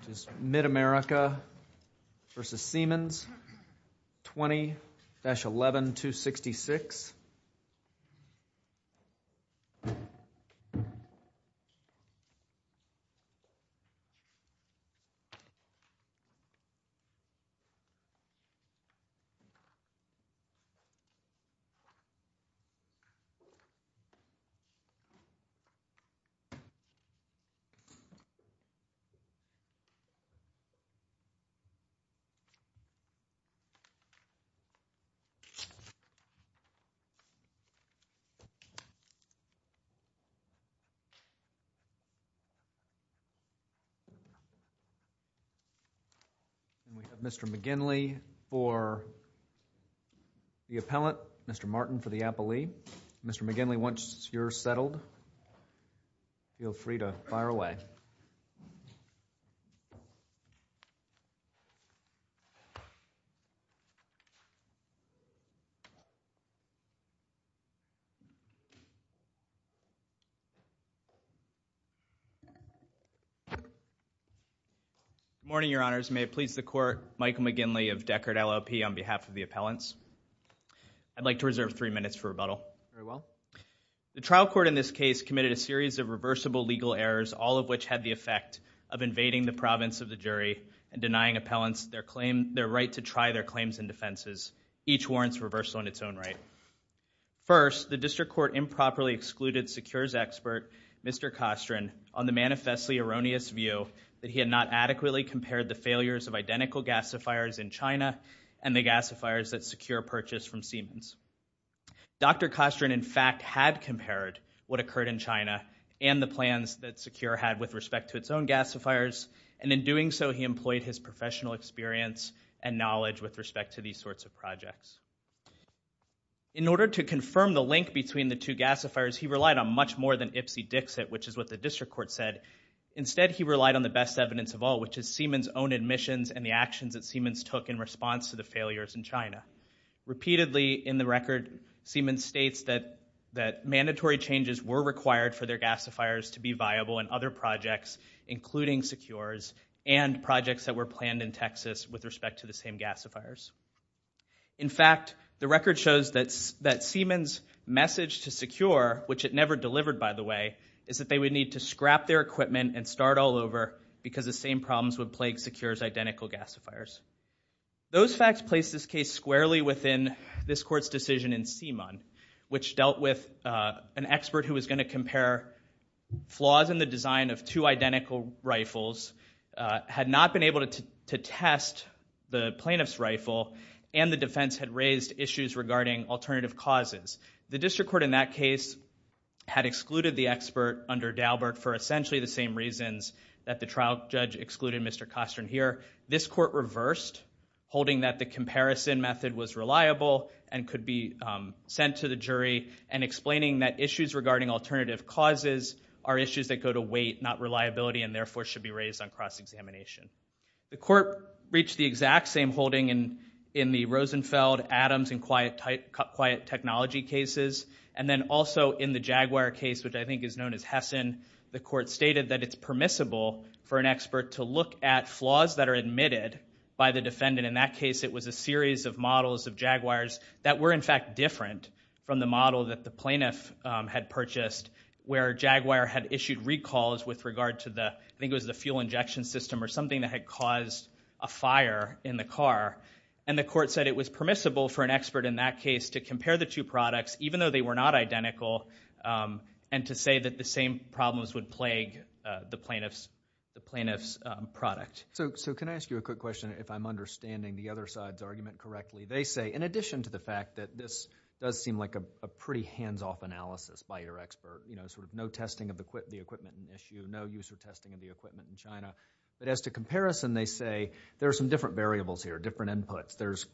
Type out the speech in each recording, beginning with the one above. which is MidAmerica v. Siemens, 20-11266. And we have Mr. McGinley for the appellant, Mr. Martin for the appellee. Mr. McGinley, once you're settled, feel free to fire away. Good morning, Your Honors. May it please the Court, Michael McGinley of Deckard LLP on behalf of the appellants. I'd like to reserve three minutes for rebuttal. Very well. The trial court in this case committed a series of reversible legal errors, all of which had the effect of invading the province of the jury and denying appellants their claim, their right to try their claims and defenses. Each warrants reversal in its own right. First, the district court improperly excluded SECURES expert, Mr. Kostrin, on the manifestly erroneous view that he had not adequately compared the failures of identical gasifiers in China and the gasifiers that SECURES purchased from Siemens. Dr. Kostrin, in fact, had compared what occurred in China and the plans that SECURES had with respect to its own gasifiers. And in doing so, he employed his professional experience and knowledge with respect to these sorts of projects. In order to confirm the link between the two gasifiers, he relied on much more than Ipsy-Dixit, which is what the district court said. Instead, he relied on the best evidence of all, which is Siemens' own admissions and the actions that Siemens took in response to the failures in China. Repeatedly in the record, Siemens states that mandatory changes were required for their gasifiers to be viable in other projects, including SECURES, and projects that were planned in Texas with respect to the same gasifiers. In fact, the record shows that Siemens' message to SECURES, which it never delivered, by the way, is that they would need to scrap their equipment and start all over because the same problems would plague SECURES' identical gasifiers. Those facts place this case squarely within this court's decision in Siemens, which dealt with an expert who was going to compare flaws in the design of two identical rifles, had not been able to test the plaintiff's rifle, and the defense had raised issues regarding alternative causes. The district court in that case had excluded the expert under Dalbert for essentially the same reasons that the trial judge excluded Mr. Kostern here. This court reversed, holding that the comparison method was reliable and could be sent to the jury, and explaining that issues regarding alternative causes are issues that go to weight, not reliability, and therefore should be raised on cross-examination. And then also in the Jaguar case, which I think is known as Hessen, the court stated that it's permissible for an expert to look at flaws that are admitted by the defendant. In that case, it was a series of models of Jaguars that were in fact different from the model that the plaintiff had purchased, where Jaguar had issued recalls with regard to the fuel injection system or something that had caused a fire in the car. And the court said it was permissible for an expert in that case to compare the two products, even though they were not identical, and to say that the same problems would plague the plaintiff's product. So can I ask you a quick question, if I'm understanding the other side's argument correctly? They say, in addition to the fact that this does seem like a pretty hands-off analysis by your expert, you know, sort of no testing of the equipment in issue, no user testing of the equipment in China, but as to comparison, they say there are some different variables here, different inputs. There's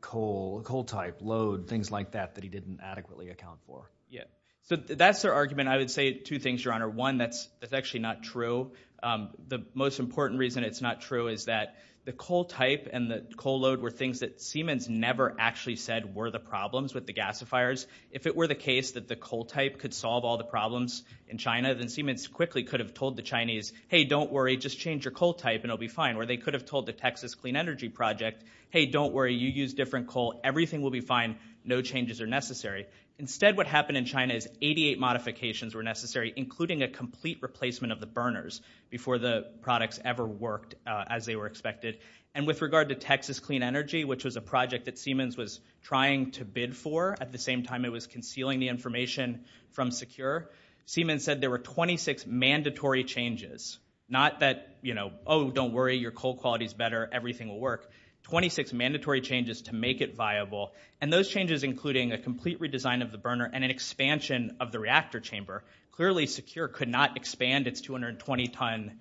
coal, coal type, load, things like that that he didn't adequately account for. Yeah. So that's their argument. I would say two things, Your Honor. One, that's actually not true. The most important reason it's not true is that the coal type and the coal load were things that Siemens never actually said were the problems with the gasifiers. If it were the case that the coal type could solve all the problems in China, then Siemens quickly could have told the Chinese, hey, don't worry, just change your coal type and it'll be fine, or they could have told the Texas Clean Energy Project, hey, don't worry, you use different coal, everything will be fine, no changes are necessary. Instead, what happened in China is 88 modifications were necessary, including a complete replacement of the burners before the products ever worked as they were expected. And with regard to Texas Clean Energy, which was a project that Siemens was trying to bid for at the same time it was concealing the information from Secure, Siemens said there were 26 mandatory changes, not that, you know, oh, don't worry, your coal quality is better, everything will work, 26 mandatory changes to make it viable. And those changes, including a complete redesign of the burner and an expansion of the reactor chamber, clearly Secure could not expand its 220-ton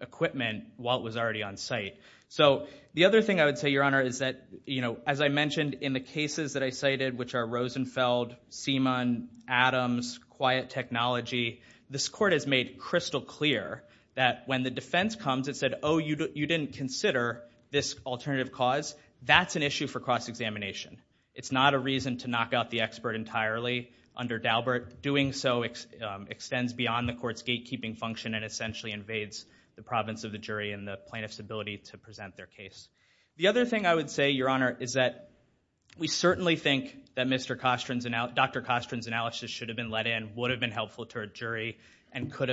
equipment while it was already on site. So the other thing I would say, Your Honor, is that, you know, as I mentioned in the cases that I cited, which are Rosenfeld, Siemens, Adams, Quiet Technology, this court has made crystal clear that when the defense comes, it said, oh, you didn't consider this alternative cause, that's an issue for cross-examination. It's not a reason to knock out the expert entirely under Daubert. Doing so extends beyond the court's gatekeeping function and essentially invades the province of the jury and the plaintiff's ability to present their case. The other thing I would say, Your Honor, is that we certainly think that Dr. Kostrin's analysis should have been let in, would have been helpful to her jury, and should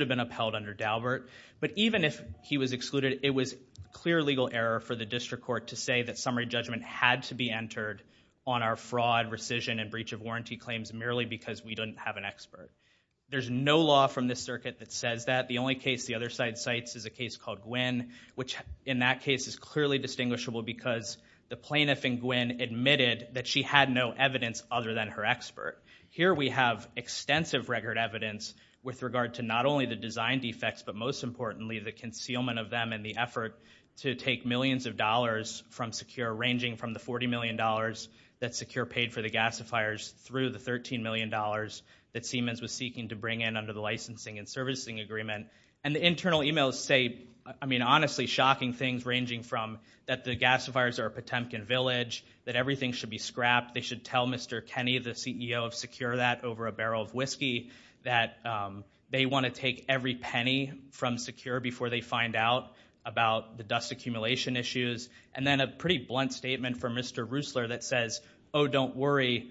have been upheld under Daubert. But even if he was excluded, it was clear legal error for the district court to say that summary judgment had to be entered on our fraud, rescission, and breach of warranty claims merely because we didn't have an expert. There's no law from this circuit that says that. The only case the other side cites is a case called Gwynn, which in that case is clearly distinguishable because the plaintiff in Gwynn admitted that she had no evidence other than her expert. Here we have extensive record evidence with regard to not only the design defects, but most importantly the concealment of them and the effort to take millions of dollars from Secure, ranging from the $40 million that Secure paid for the gasifiers through the $13 million that Siemens was seeking to bring in under the licensing and servicing agreement. And the internal emails say, I mean, honestly, shocking things, ranging from that the gasifiers are a Potemkin village, that everything should be scrapped, they should tell Mr. Kenny, the CEO of Secure, that over a barrel of whiskey, that they want to take every penny from Secure before they find out about the dust accumulation issues, and then a pretty blunt statement from Mr. Rusler that says, oh, don't worry,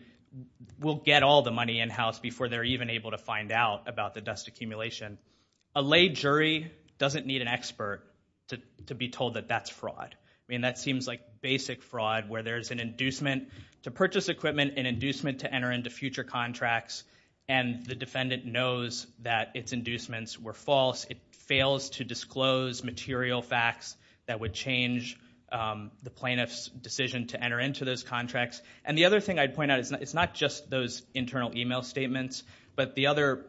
we'll get all the money in-house before they're even able to find out about the dust accumulation. A lay jury doesn't need an expert to be told that that's fraud. I mean, that seems like basic fraud where there's an inducement to purchase equipment, an inducement to enter into future contracts, and the defendant knows that its inducements were false. It fails to disclose material facts that would change the plaintiff's decision to enter into those contracts. And the other thing I'd point out, it's not just those internal email statements, but the other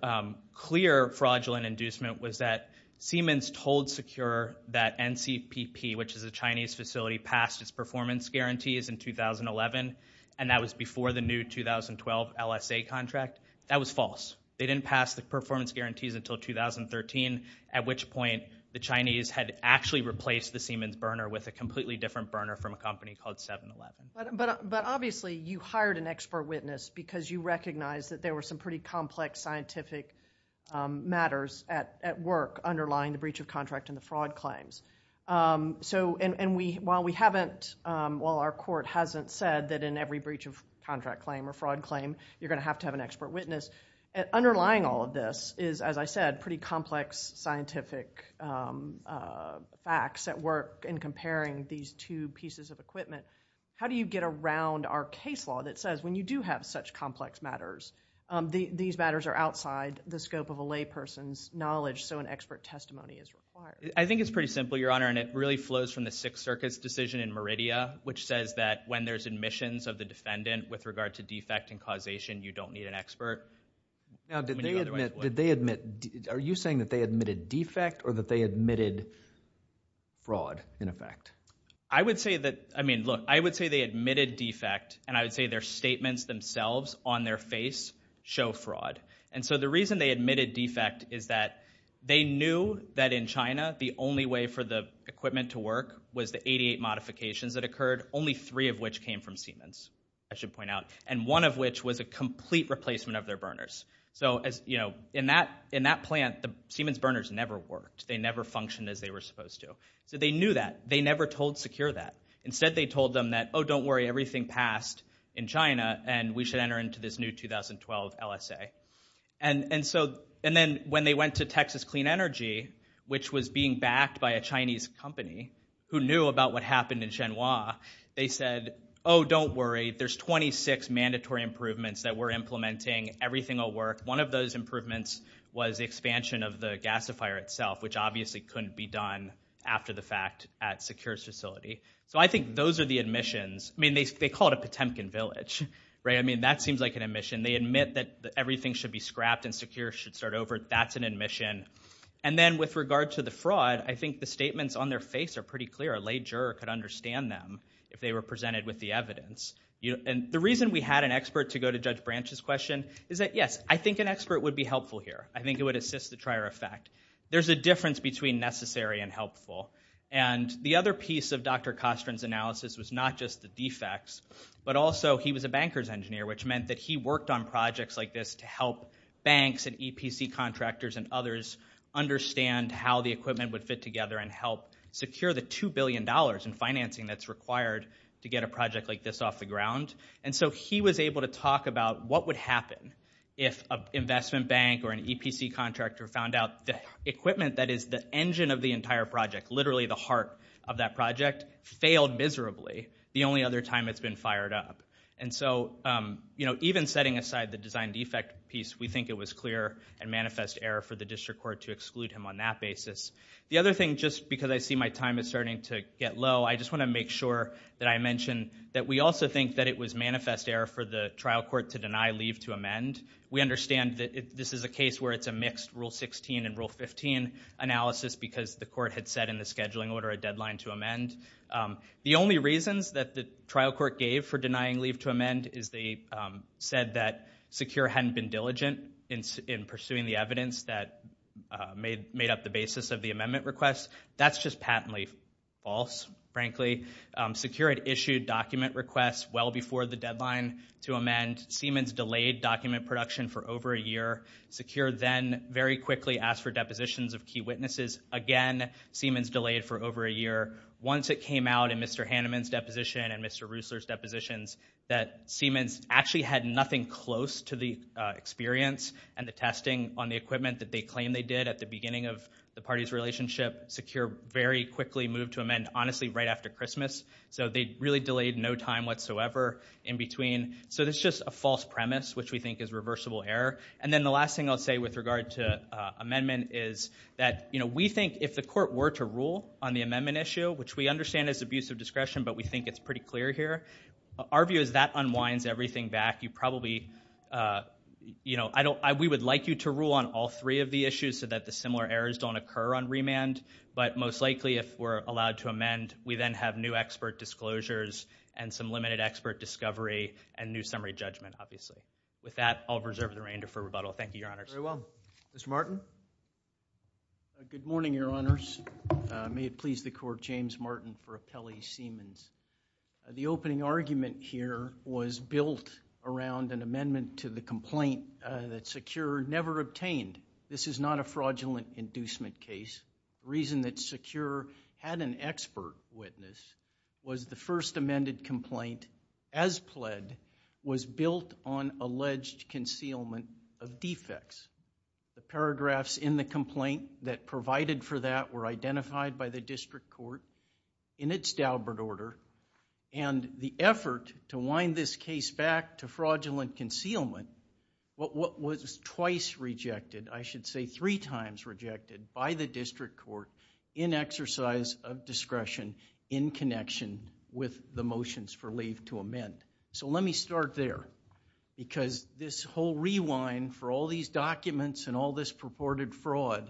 clear fraudulent inducement was that Siemens told Secure that NCPP, which is a Chinese facility, passed its performance guarantees in 2011, and that was before the new 2012 LSA contract. That was false. They didn't pass the performance guarantees until 2013, at which point the Chinese had actually replaced the Siemens burner with a completely different burner from a company called 7-Eleven. But obviously you hired an expert witness because you recognized that there were some pretty complex scientific matters at work underlying the breach of contract and the fraud claims. And while our court hasn't said that in every breach of contract claim or fraud claim, you're going to have to have an expert witness, underlying all of this is, as I said, pretty complex scientific facts at work in comparing these two pieces of equipment. How do you get around our case law that says when you do have such complex matters, these matters are outside the scope of a layperson's knowledge, so an expert testimony is required? I think it's pretty simple, Your Honor, and it really flows from the Sixth Circuit's decision in Meridia, which says that when there's admissions of the defendant with regard to defect and causation, you don't need an expert. Now, did they admit... Are you saying that they admitted defect or that they admitted fraud, in effect? I would say that... I mean, look, I would say they admitted defect, and I would say their statements themselves on their face show fraud. And so the reason they admitted defect is that they knew that in China, the only way for the equipment to work was the 88 modifications that occurred, only three of which came from Siemens, I should point out, and one of which was a complete replacement of their burners. So, you know, in that plant, Siemens burners never worked. They never functioned as they were supposed to. So they knew that. They never told Secure that. Instead, they told them that, oh, don't worry, everything passed in China, and we should enter into this new 2012 LSA. And then when they went to Texas Clean Energy, which was being backed by a Chinese company who knew about what happened in Xinhua, they said, oh, don't worry, there's 26 mandatory improvements that we're implementing. Everything will work. One of those improvements was expansion of the gasifier itself, which obviously couldn't be done after the fact at Secure's facility. So I think those are the admissions. I mean, they call it a Potemkin village, right? I mean, that seems like an admission. They admit that everything should be scrapped and Secure should start over. That's an admission. And then with regard to the fraud, I think the statements on their face are pretty clear. A lay juror could understand them if they were presented with the evidence. And the reason we had an expert to go to Judge Branch's question is that, yes, I think an expert would be helpful here. I think it would assist the trier effect. There's a difference between necessary and helpful. And the other piece of Dr. Kostrin's analysis was not just the defects, but also he was a bankers engineer, which meant that he worked on projects like this to help banks and EPC contractors and others understand how the equipment would fit together and help secure the $2 billion in financing that's required to get a project like this off the ground. And so he was able to talk about what would happen if an investment bank or an EPC contractor found out the equipment that is the engine of the entire project, literally the heart of that project, failed miserably the only other time it's been fired up. And so, you know, even setting aside the design defect piece, we think it was clear and manifest error for the district court to exclude him on that basis. The other thing, just because I see my time is starting to get low, I just want to make sure that I mention that we also think that it was manifest error for the trial court to deny leave to amend. We understand that this is a case where it's a mixed Rule 16 and Rule 15 analysis because the court had set in the scheduling order a deadline to amend. The only reasons that the trial court gave for denying leave to amend is they said that Secure hadn't been diligent in pursuing the evidence that made up the basis of the amendment request. That's just patently false, frankly. Secure had issued document requests well before the deadline to amend. Siemens delayed document production for over a year. Secure then very quickly asked for depositions of key witnesses. Again, Siemens delayed for over a year. Once it came out in Mr. Hanneman's deposition and Mr. Reussler's depositions that Siemens actually had nothing close to the experience and the testing on the equipment that they claimed they did at the beginning of the party's relationship, Secure very quickly moved to amend, honestly, right after Christmas. So they really delayed no time whatsoever in between. So it's just a false premise, which we think is reversible error. And then the last thing I'll say with regard to amendment is that we think if the court were to rule on the amendment issue, which we understand is abuse of discretion, but we think it's pretty clear here, our view is that unwinds everything back. You probably... We would like you to rule on all three of the issues so that the similar errors don't occur on remand, but most likely if we're allowed to amend, we then have new expert disclosures and some limited expert discovery and new summary judgment, obviously. With that, I'll reserve the remainder for rebuttal. Thank you, Your Honors. Very well. Mr. Martin? Good morning, Your Honors. May it please the court, James Martin for Appellee Siemens. The opening argument here was built around an amendment to the complaint that Secure never obtained. This is not a fraudulent inducement case. The reason that Secure had an expert witness was the first amended complaint, as pled, was built on alleged concealment of defects. The paragraphs in the complaint that provided for that were identified by the district court in its Daubert order, and the effort to wind this case back to fraudulent concealment, what was twice rejected, I should say three times rejected, by the district court in exercise of discretion in connection with the motions for leave to amend. So let me start there. Because this whole rewind for all these documents and all this purported fraud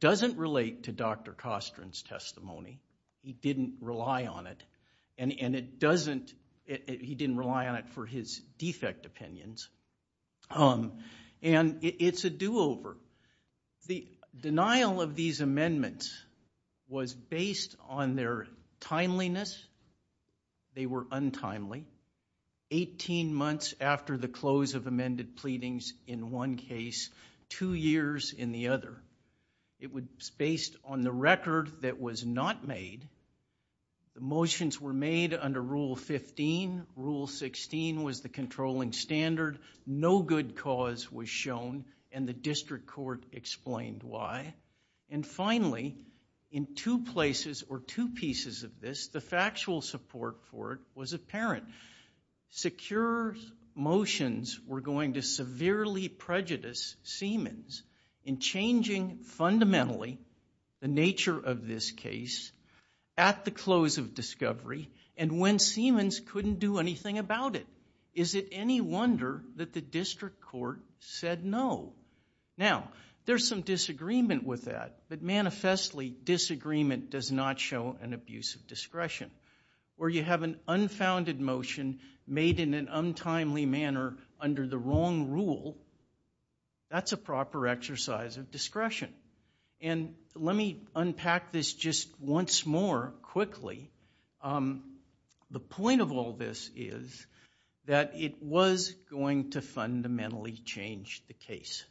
doesn't relate to Dr. Kostran's testimony. He didn't rely on it. And it doesn't... He didn't rely on it for his defect opinions. And it's a do-over. The denial of these amendments was based on their timeliness. They were untimely. 18 months after the close of amended pleadings in one case, two years in the other. It was based on the record that was not made. The motions were made under Rule 15. Rule 16 was the controlling standard. No good cause was shown, and the district court explained why. And finally, in two places, or two pieces of this, the factual support for it was apparent. Secure motions were going to severely prejudice Siemens in changing fundamentally the nature of this case at the close of discovery and when Siemens couldn't do anything about it. Is it any wonder that the district court said no? Now, there's some disagreement with that, but manifestly disagreement does not show an abuse of discretion. Where you have an unfounded motion made in an untimely manner under the wrong rule, that's a proper exercise of discretion. And let me unpack this just once more quickly. The point of all this is that it was going to fundamentally change the case.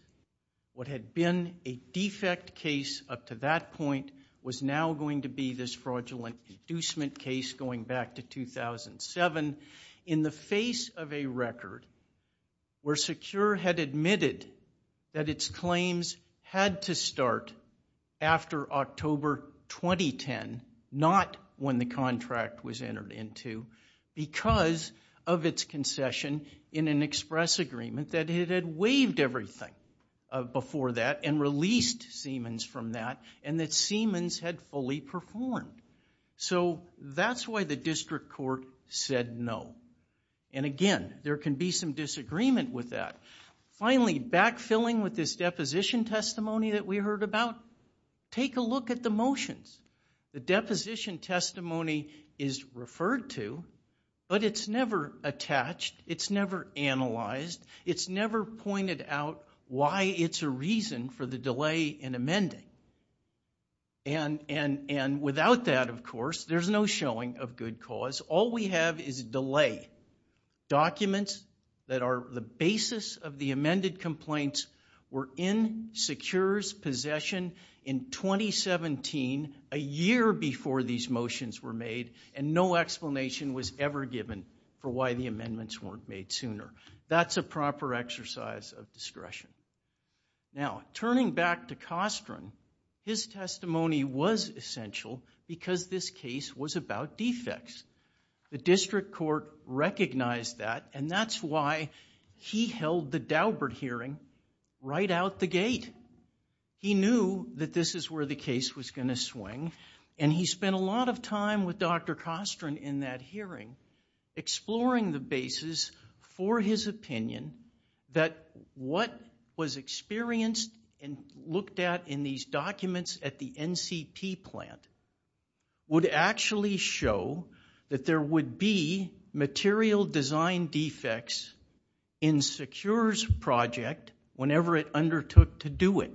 What had been a defect case up to that point was now going to be this fraudulent deducement case going back to 2007. In the face of a record where Secure had admitted that its claims had to start after October 2010, not when the contract was entered into, because of its concession in an express agreement that it had waived everything before that and released Siemens from that and that Siemens had fully performed. So that's why the district court said no. And again, there can be some disagreement with that. Finally, backfilling with this deposition testimony that we heard about, take a look at the motions. The deposition testimony is referred to, but it's never attached, it's never analyzed, it's never pointed out why it's a reason for the delay in amending. And without that, of course, there's no showing of good cause. All we have is a delay. Documents that are the basis of the amended complaints were in Secure's possession in 2017, a year before these motions were made, and no explanation was ever given for why the amendments weren't made sooner. That's a proper exercise of discretion. Now, turning back to Costren, his testimony was essential because this case was about defects. The district court recognized that and that's why he held the Daubert hearing right out the gate. He knew that this is where the case was going to swing and he spent a lot of time with Dr. Costren in that hearing, exploring the basis for his opinion that what was experienced and looked at in these documents at the NCP plant would actually show that there would be material design defects in Secure's project whenever it undertook to do it.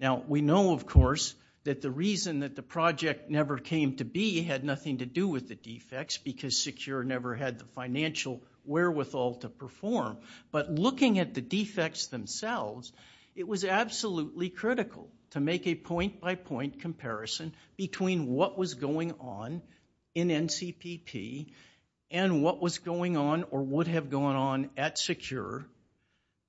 Now, we know, of course, that the reason that the project never came to be had nothing to do with the defects because Secure never had the financial wherewithal to perform, but looking at the defects themselves, it was absolutely critical to make a point-by-point comparison between what was going on in NCPP and what was going on or would have gone on at Secure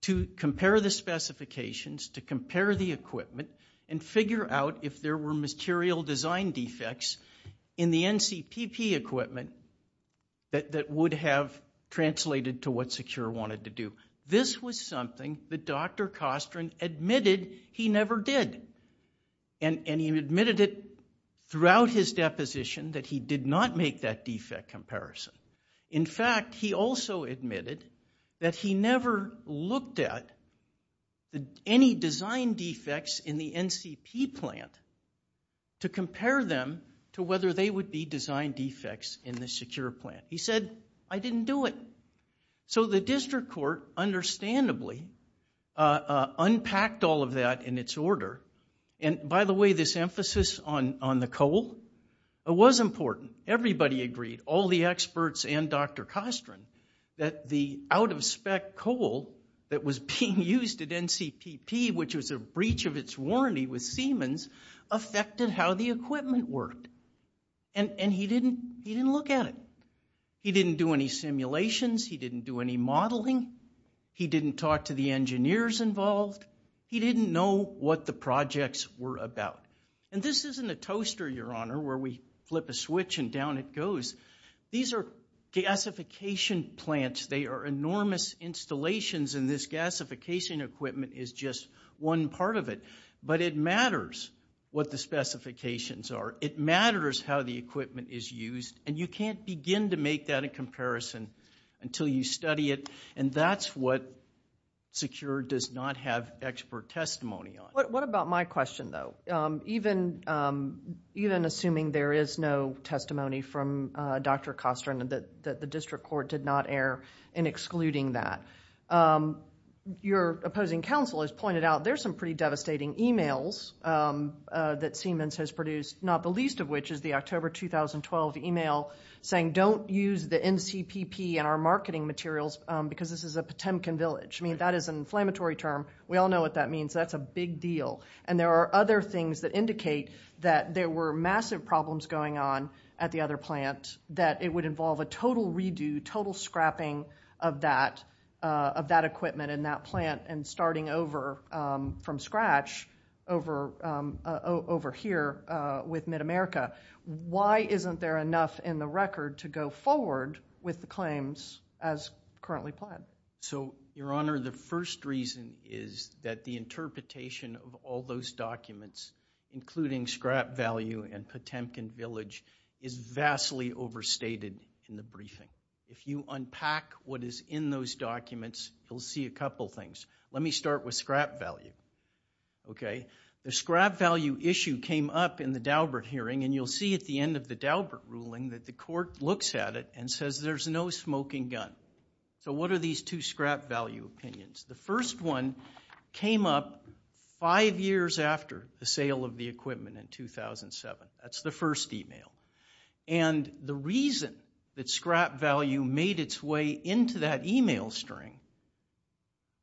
to compare the specifications, to compare the equipment, and figure out if there were material design defects in the NCPP equipment that would have translated to what Secure wanted to do. This was something that Dr. Costren admitted he never did and he admitted it throughout his deposition that he did not make that defect comparison. In fact, he also admitted that he never looked at any design defects in the NCP plant to compare them to whether they would be design defects in the Secure plant. He said, I didn't do it. So the district court, understandably, unpacked all of that in its order. And by the way, this emphasis on the coal, it was important. Everybody agreed, all the experts and Dr. Costren, that the out-of-spec coal that was being used at NCPP, which was a breach of its warranty with Siemens, affected how the equipment worked. And he didn't look at it. He didn't do any simulations. He didn't do any modeling. He didn't talk to the engineers involved. He didn't know what the projects were about. And this isn't a toaster, Your Honor, where we flip a switch and down it goes. These are gasification plants. They are enormous installations, and this gasification equipment is just one part of it. But it matters what the specifications are. It matters how the equipment is used, and you can't begin to make that a comparison until you study it. And that's what Secure does not have expert testimony on. What about my question, though? Even assuming there is no testimony from Dr. Costren that the district court did not err in excluding that, your opposing counsel has pointed out there's some pretty devastating e-mails that Siemens has produced, not the least of which is the October 2012 e-mail saying don't use the NCPP in our marketing materials because this is a Potemkin village. I mean, that is an inflammatory term. We all know what that means. That's a big deal. And there are other things that indicate that there were massive problems going on at the other plant that it would involve a total redo, total scrapping of that equipment in that plant and starting over from scratch over here with MidAmerica. Why isn't there enough in the record to go forward with the claims as currently planned? So, Your Honor, the first reason is that the interpretation of all those documents, including scrap value and Potemkin village, is vastly overstated in the briefing. If you unpack what is in those documents, you'll see a couple things. Let me start with scrap value, okay? The scrap value issue came up in the Daubert hearing, and you'll see at the end of the Daubert ruling that the court looks at it and says there's no smoking gun. So what are these two scrap value opinions? The first one came up five years after the sale of the equipment in 2007. That's the first e-mail. And the reason that scrap value made its way into that e-mail string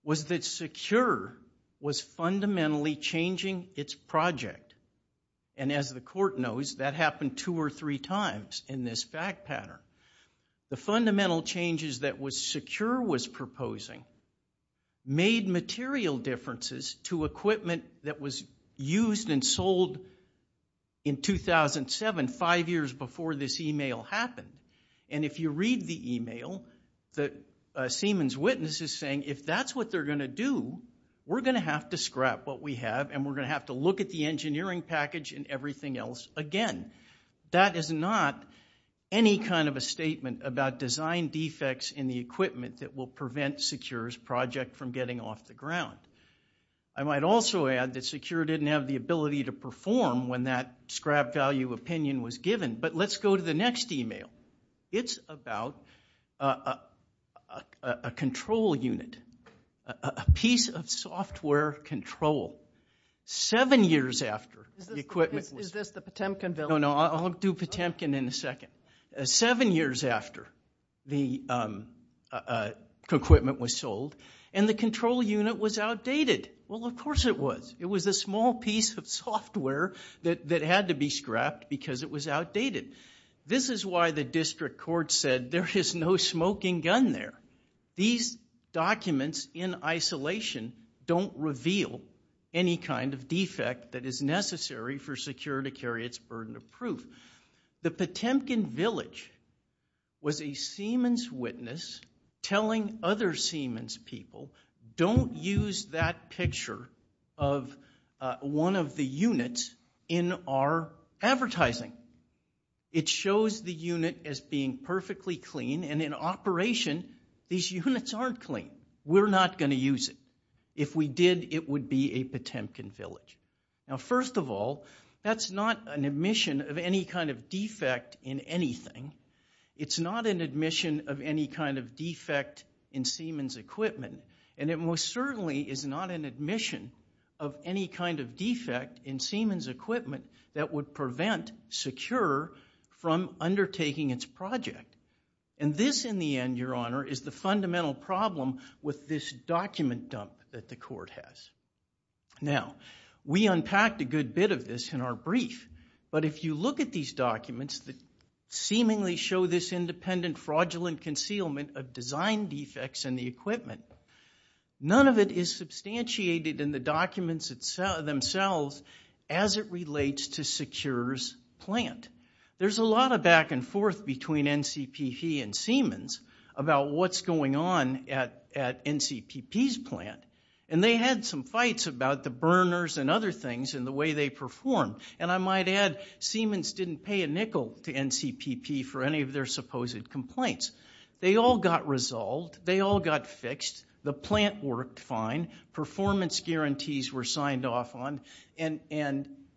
was that Secure was fundamentally changing its project. And as the court knows, that happened two or three times in this fact pattern. The fundamental changes that Secure was proposing made material differences to equipment that was used and sold in 2007, five years before this e-mail happened. And if you read the e-mail, Seaman's witness is saying, if that's what they're going to do, we're going to have to scrap what we have, and we're going to have to look at the engineering package and everything else again. That is not any kind of a statement about design defects in the equipment that will prevent Secure's project from getting off the ground. I might also add that Secure didn't have the ability to perform when that scrap value opinion was given. But let's go to the next e-mail. It's about a control unit, a piece of software control, seven years after the equipment was... No, no, I'll do Potemkin in a second. Seven years after the equipment was sold, and the control unit was outdated. Well, of course it was. It was a small piece of software that had to be scrapped because it was outdated. This is why the district court said, there is no smoking gun there. These documents in isolation don't reveal any kind of defect that is necessary for Secure to carry its burden of proof. The Potemkin Village was a Siemens witness telling other Siemens people, don't use that picture of one of the units in our advertising. It shows the unit as being perfectly clean, and in operation, these units aren't clean. We're not going to use it. If we did, it would be a Potemkin Village. Now, first of all, that's not an admission of any kind of defect in anything. It's not an admission of any kind of defect in Siemens equipment, and it most certainly is not an admission of any kind of defect in Siemens equipment that would prevent Secure from undertaking its project. And this, in the end, Your Honor, is the fundamental problem with this document dump that the court has. Now, we unpacked a good bit of this in our brief, but if you look at these documents that seemingly show this independent, fraudulent concealment of design defects in the equipment, none of it is substantiated in the documents themselves as it relates to Secure's plant. There's a lot of back and forth between NCPP and Siemens about what's going on at NCPP's plant, and they had some fights about the burners and other things and the way they performed. And I might add, Siemens didn't pay a nickel to NCPP for any of their supposed complaints. They all got resolved. They all got fixed. The plant worked fine. Performance guarantees were signed off on, and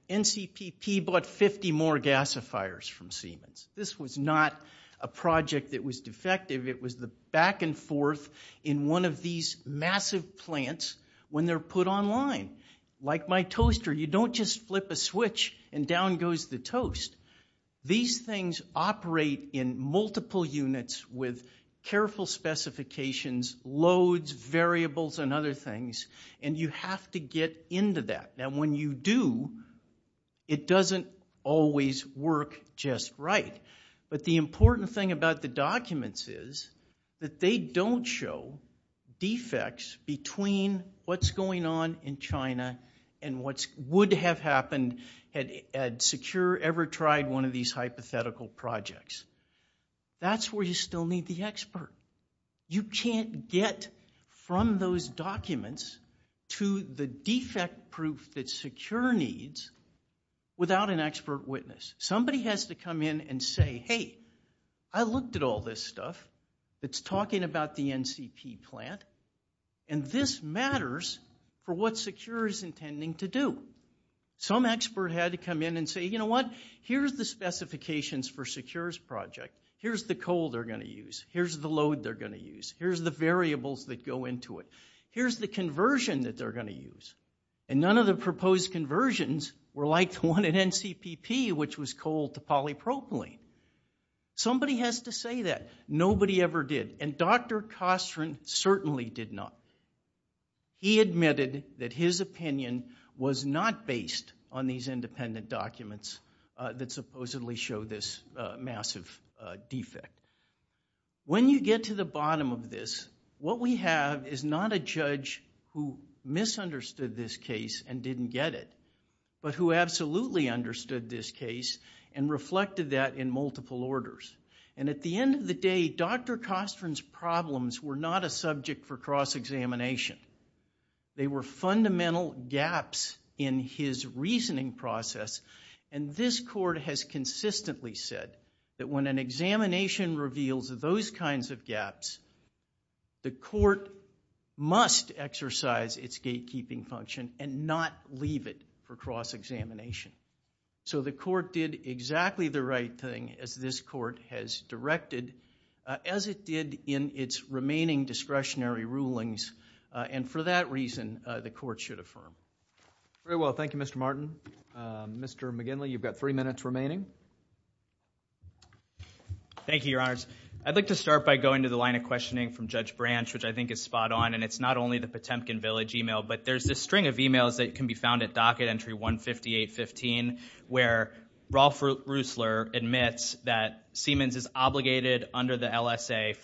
NCPP bought 50 more gasifiers from Siemens. This was not a project that was defective. It was the back and forth in one of these massive plants when they're put online. Like my toaster, you don't just flip a switch and down goes the toast. These things operate in multiple units with careful specifications, loads, variables, and other things, and you have to get into that. Now, when you do, it doesn't always work just right. But the important thing about the documents is that they don't show defects between what's going on in China and what would have happened had Secure ever tried one of these hypothetical projects. That's where you still need the expert. You can't get from those documents to the defect proof that Secure needs without an expert witness. Somebody has to come in and say, hey, I looked at all this stuff that's talking about the NCP plant, and this matters for what Secure is intending to do. Some expert had to come in and say, you know what, here's the specifications for Secure's project. Here's the coal they're going to use. Here's the load they're going to use. Here's the variables that go into it. Here's the conversion that they're going to use. And none of the proposed conversions were like the one at NCPP, which was coal to polypropylene. Somebody has to say that. Nobody ever did. And Dr. Kostrin certainly did not. He admitted that his opinion was not based on these independent documents that supposedly show this massive defect. When you get to the bottom of this, what we have is not a judge who misunderstood this case and didn't get it, but who absolutely understood this case and reflected that in multiple orders. And at the end of the day, Dr. Kostrin's problems were not a subject for cross-examination. They were fundamental gaps in his reasoning process. And this court has consistently said that when an examination reveals those kinds of gaps, the court must exercise its gatekeeping function and not leave it for cross-examination. So the court did exactly the right thing, as this court has directed, as it did in its remaining discretionary rulings. And for that reason, the court should affirm. Very well. Thank you, Mr. Martin. Mr. McGinley, you've got three minutes remaining. Thank you, Your Honors. I'd like to start by going to the line of questioning from Judge Branch, which I think is spot-on, and it's not only the Potemkin Village e-mail, but there's this string of e-mails that can be found at Docket Entry 15815 where Rolf Reussler admits that Siemens is obligated under the LSA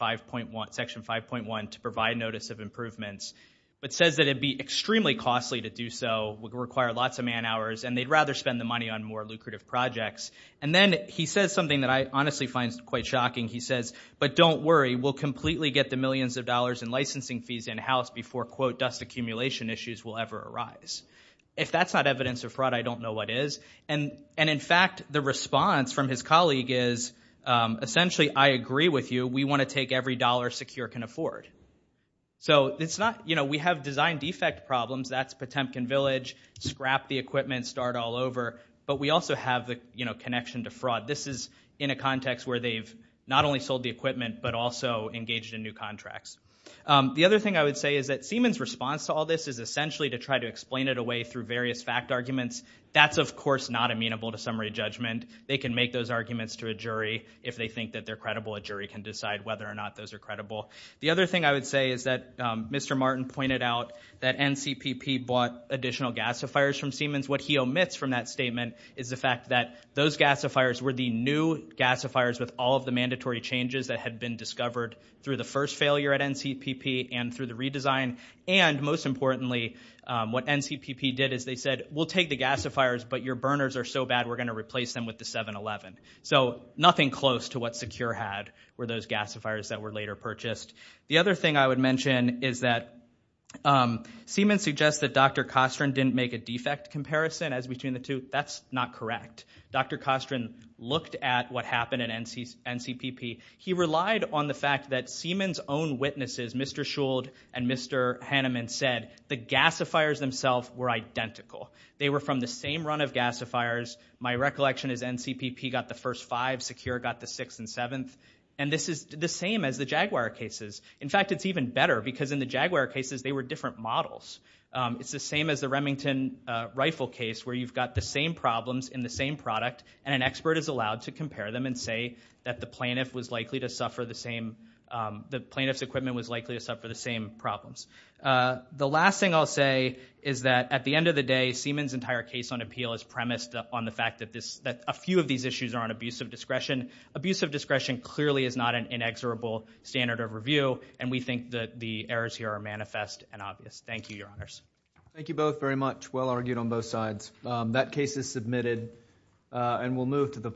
Section 5.1 to provide notice of improvements, but says that it'd be extremely costly to do so, would require lots of man-hours, and they'd rather spend the money on more lucrative projects. And then he says something that I honestly find quite shocking. He says, but don't worry, we'll completely get the millions of dollars in licensing fees in-house before, quote, dust-accumulation issues will ever arise. If that's not evidence of fraud, I don't know what is. And in fact, the response from his colleague is, essentially, I agree with you. We want to take every dollar SECURE can afford. So it's not, you know, we have design-defect problems. That's Potemkin Village. Scrap the equipment, start all over. But we also have the, you know, connection to fraud. This is in a context where they've not only sold the equipment, but also engaged in new contracts. The other thing I would say is that Siemens' response to all this is essentially to try to explain it away through various fact arguments. That's, of course, not amenable to summary judgment. They can make those arguments to a jury if they think that they're credible. A jury can decide whether or not those are credible. The other thing I would say is that Mr. Martin pointed out that NCPP bought additional gasifiers from Siemens. What he omits from that statement is the fact that those gasifiers were the new gasifiers with all of the mandatory changes that had been discovered through the first failure at NCPP and through the redesign. And, most importantly, what NCPP did is they said, we'll take the gasifiers, but your burners are so bad, we're going to replace them with the 7-Eleven. So nothing close to what SECURE had were those gasifiers that were later purchased. The other thing I would mention is that Siemens suggests that Dr. Kostern didn't make a defect comparison as between the two. That's not correct. Dr. Kostern looked at what happened at NCPP. He relied on the fact that Siemens' own witnesses, Mr. Schuld and Mr. Hanneman, said the gasifiers themselves were identical. They were from the same run of gasifiers. My recollection is NCPP got the first five, SECURE got the sixth and seventh. And this is the same as the Jaguar cases. In fact, it's even better, because in the Jaguar cases, they were different models. It's the same as the Remington rifle case, where you've got the same problems in the same product, and an expert is allowed to compare them and say that the plaintiff was likely to suffer the same... the plaintiff's equipment was likely to suffer the same problems. The last thing I'll say is that at the end of the day, Siemens' entire case on appeal is premised on the fact that a few of these issues are on abusive discretion. Abusive discretion clearly is not an inexorable standard of review, and we think that the errors here are manifest and obvious. Thank you, Your Honors. Thank you both very much. Well argued on both sides. That case is submitted, and we'll move to the...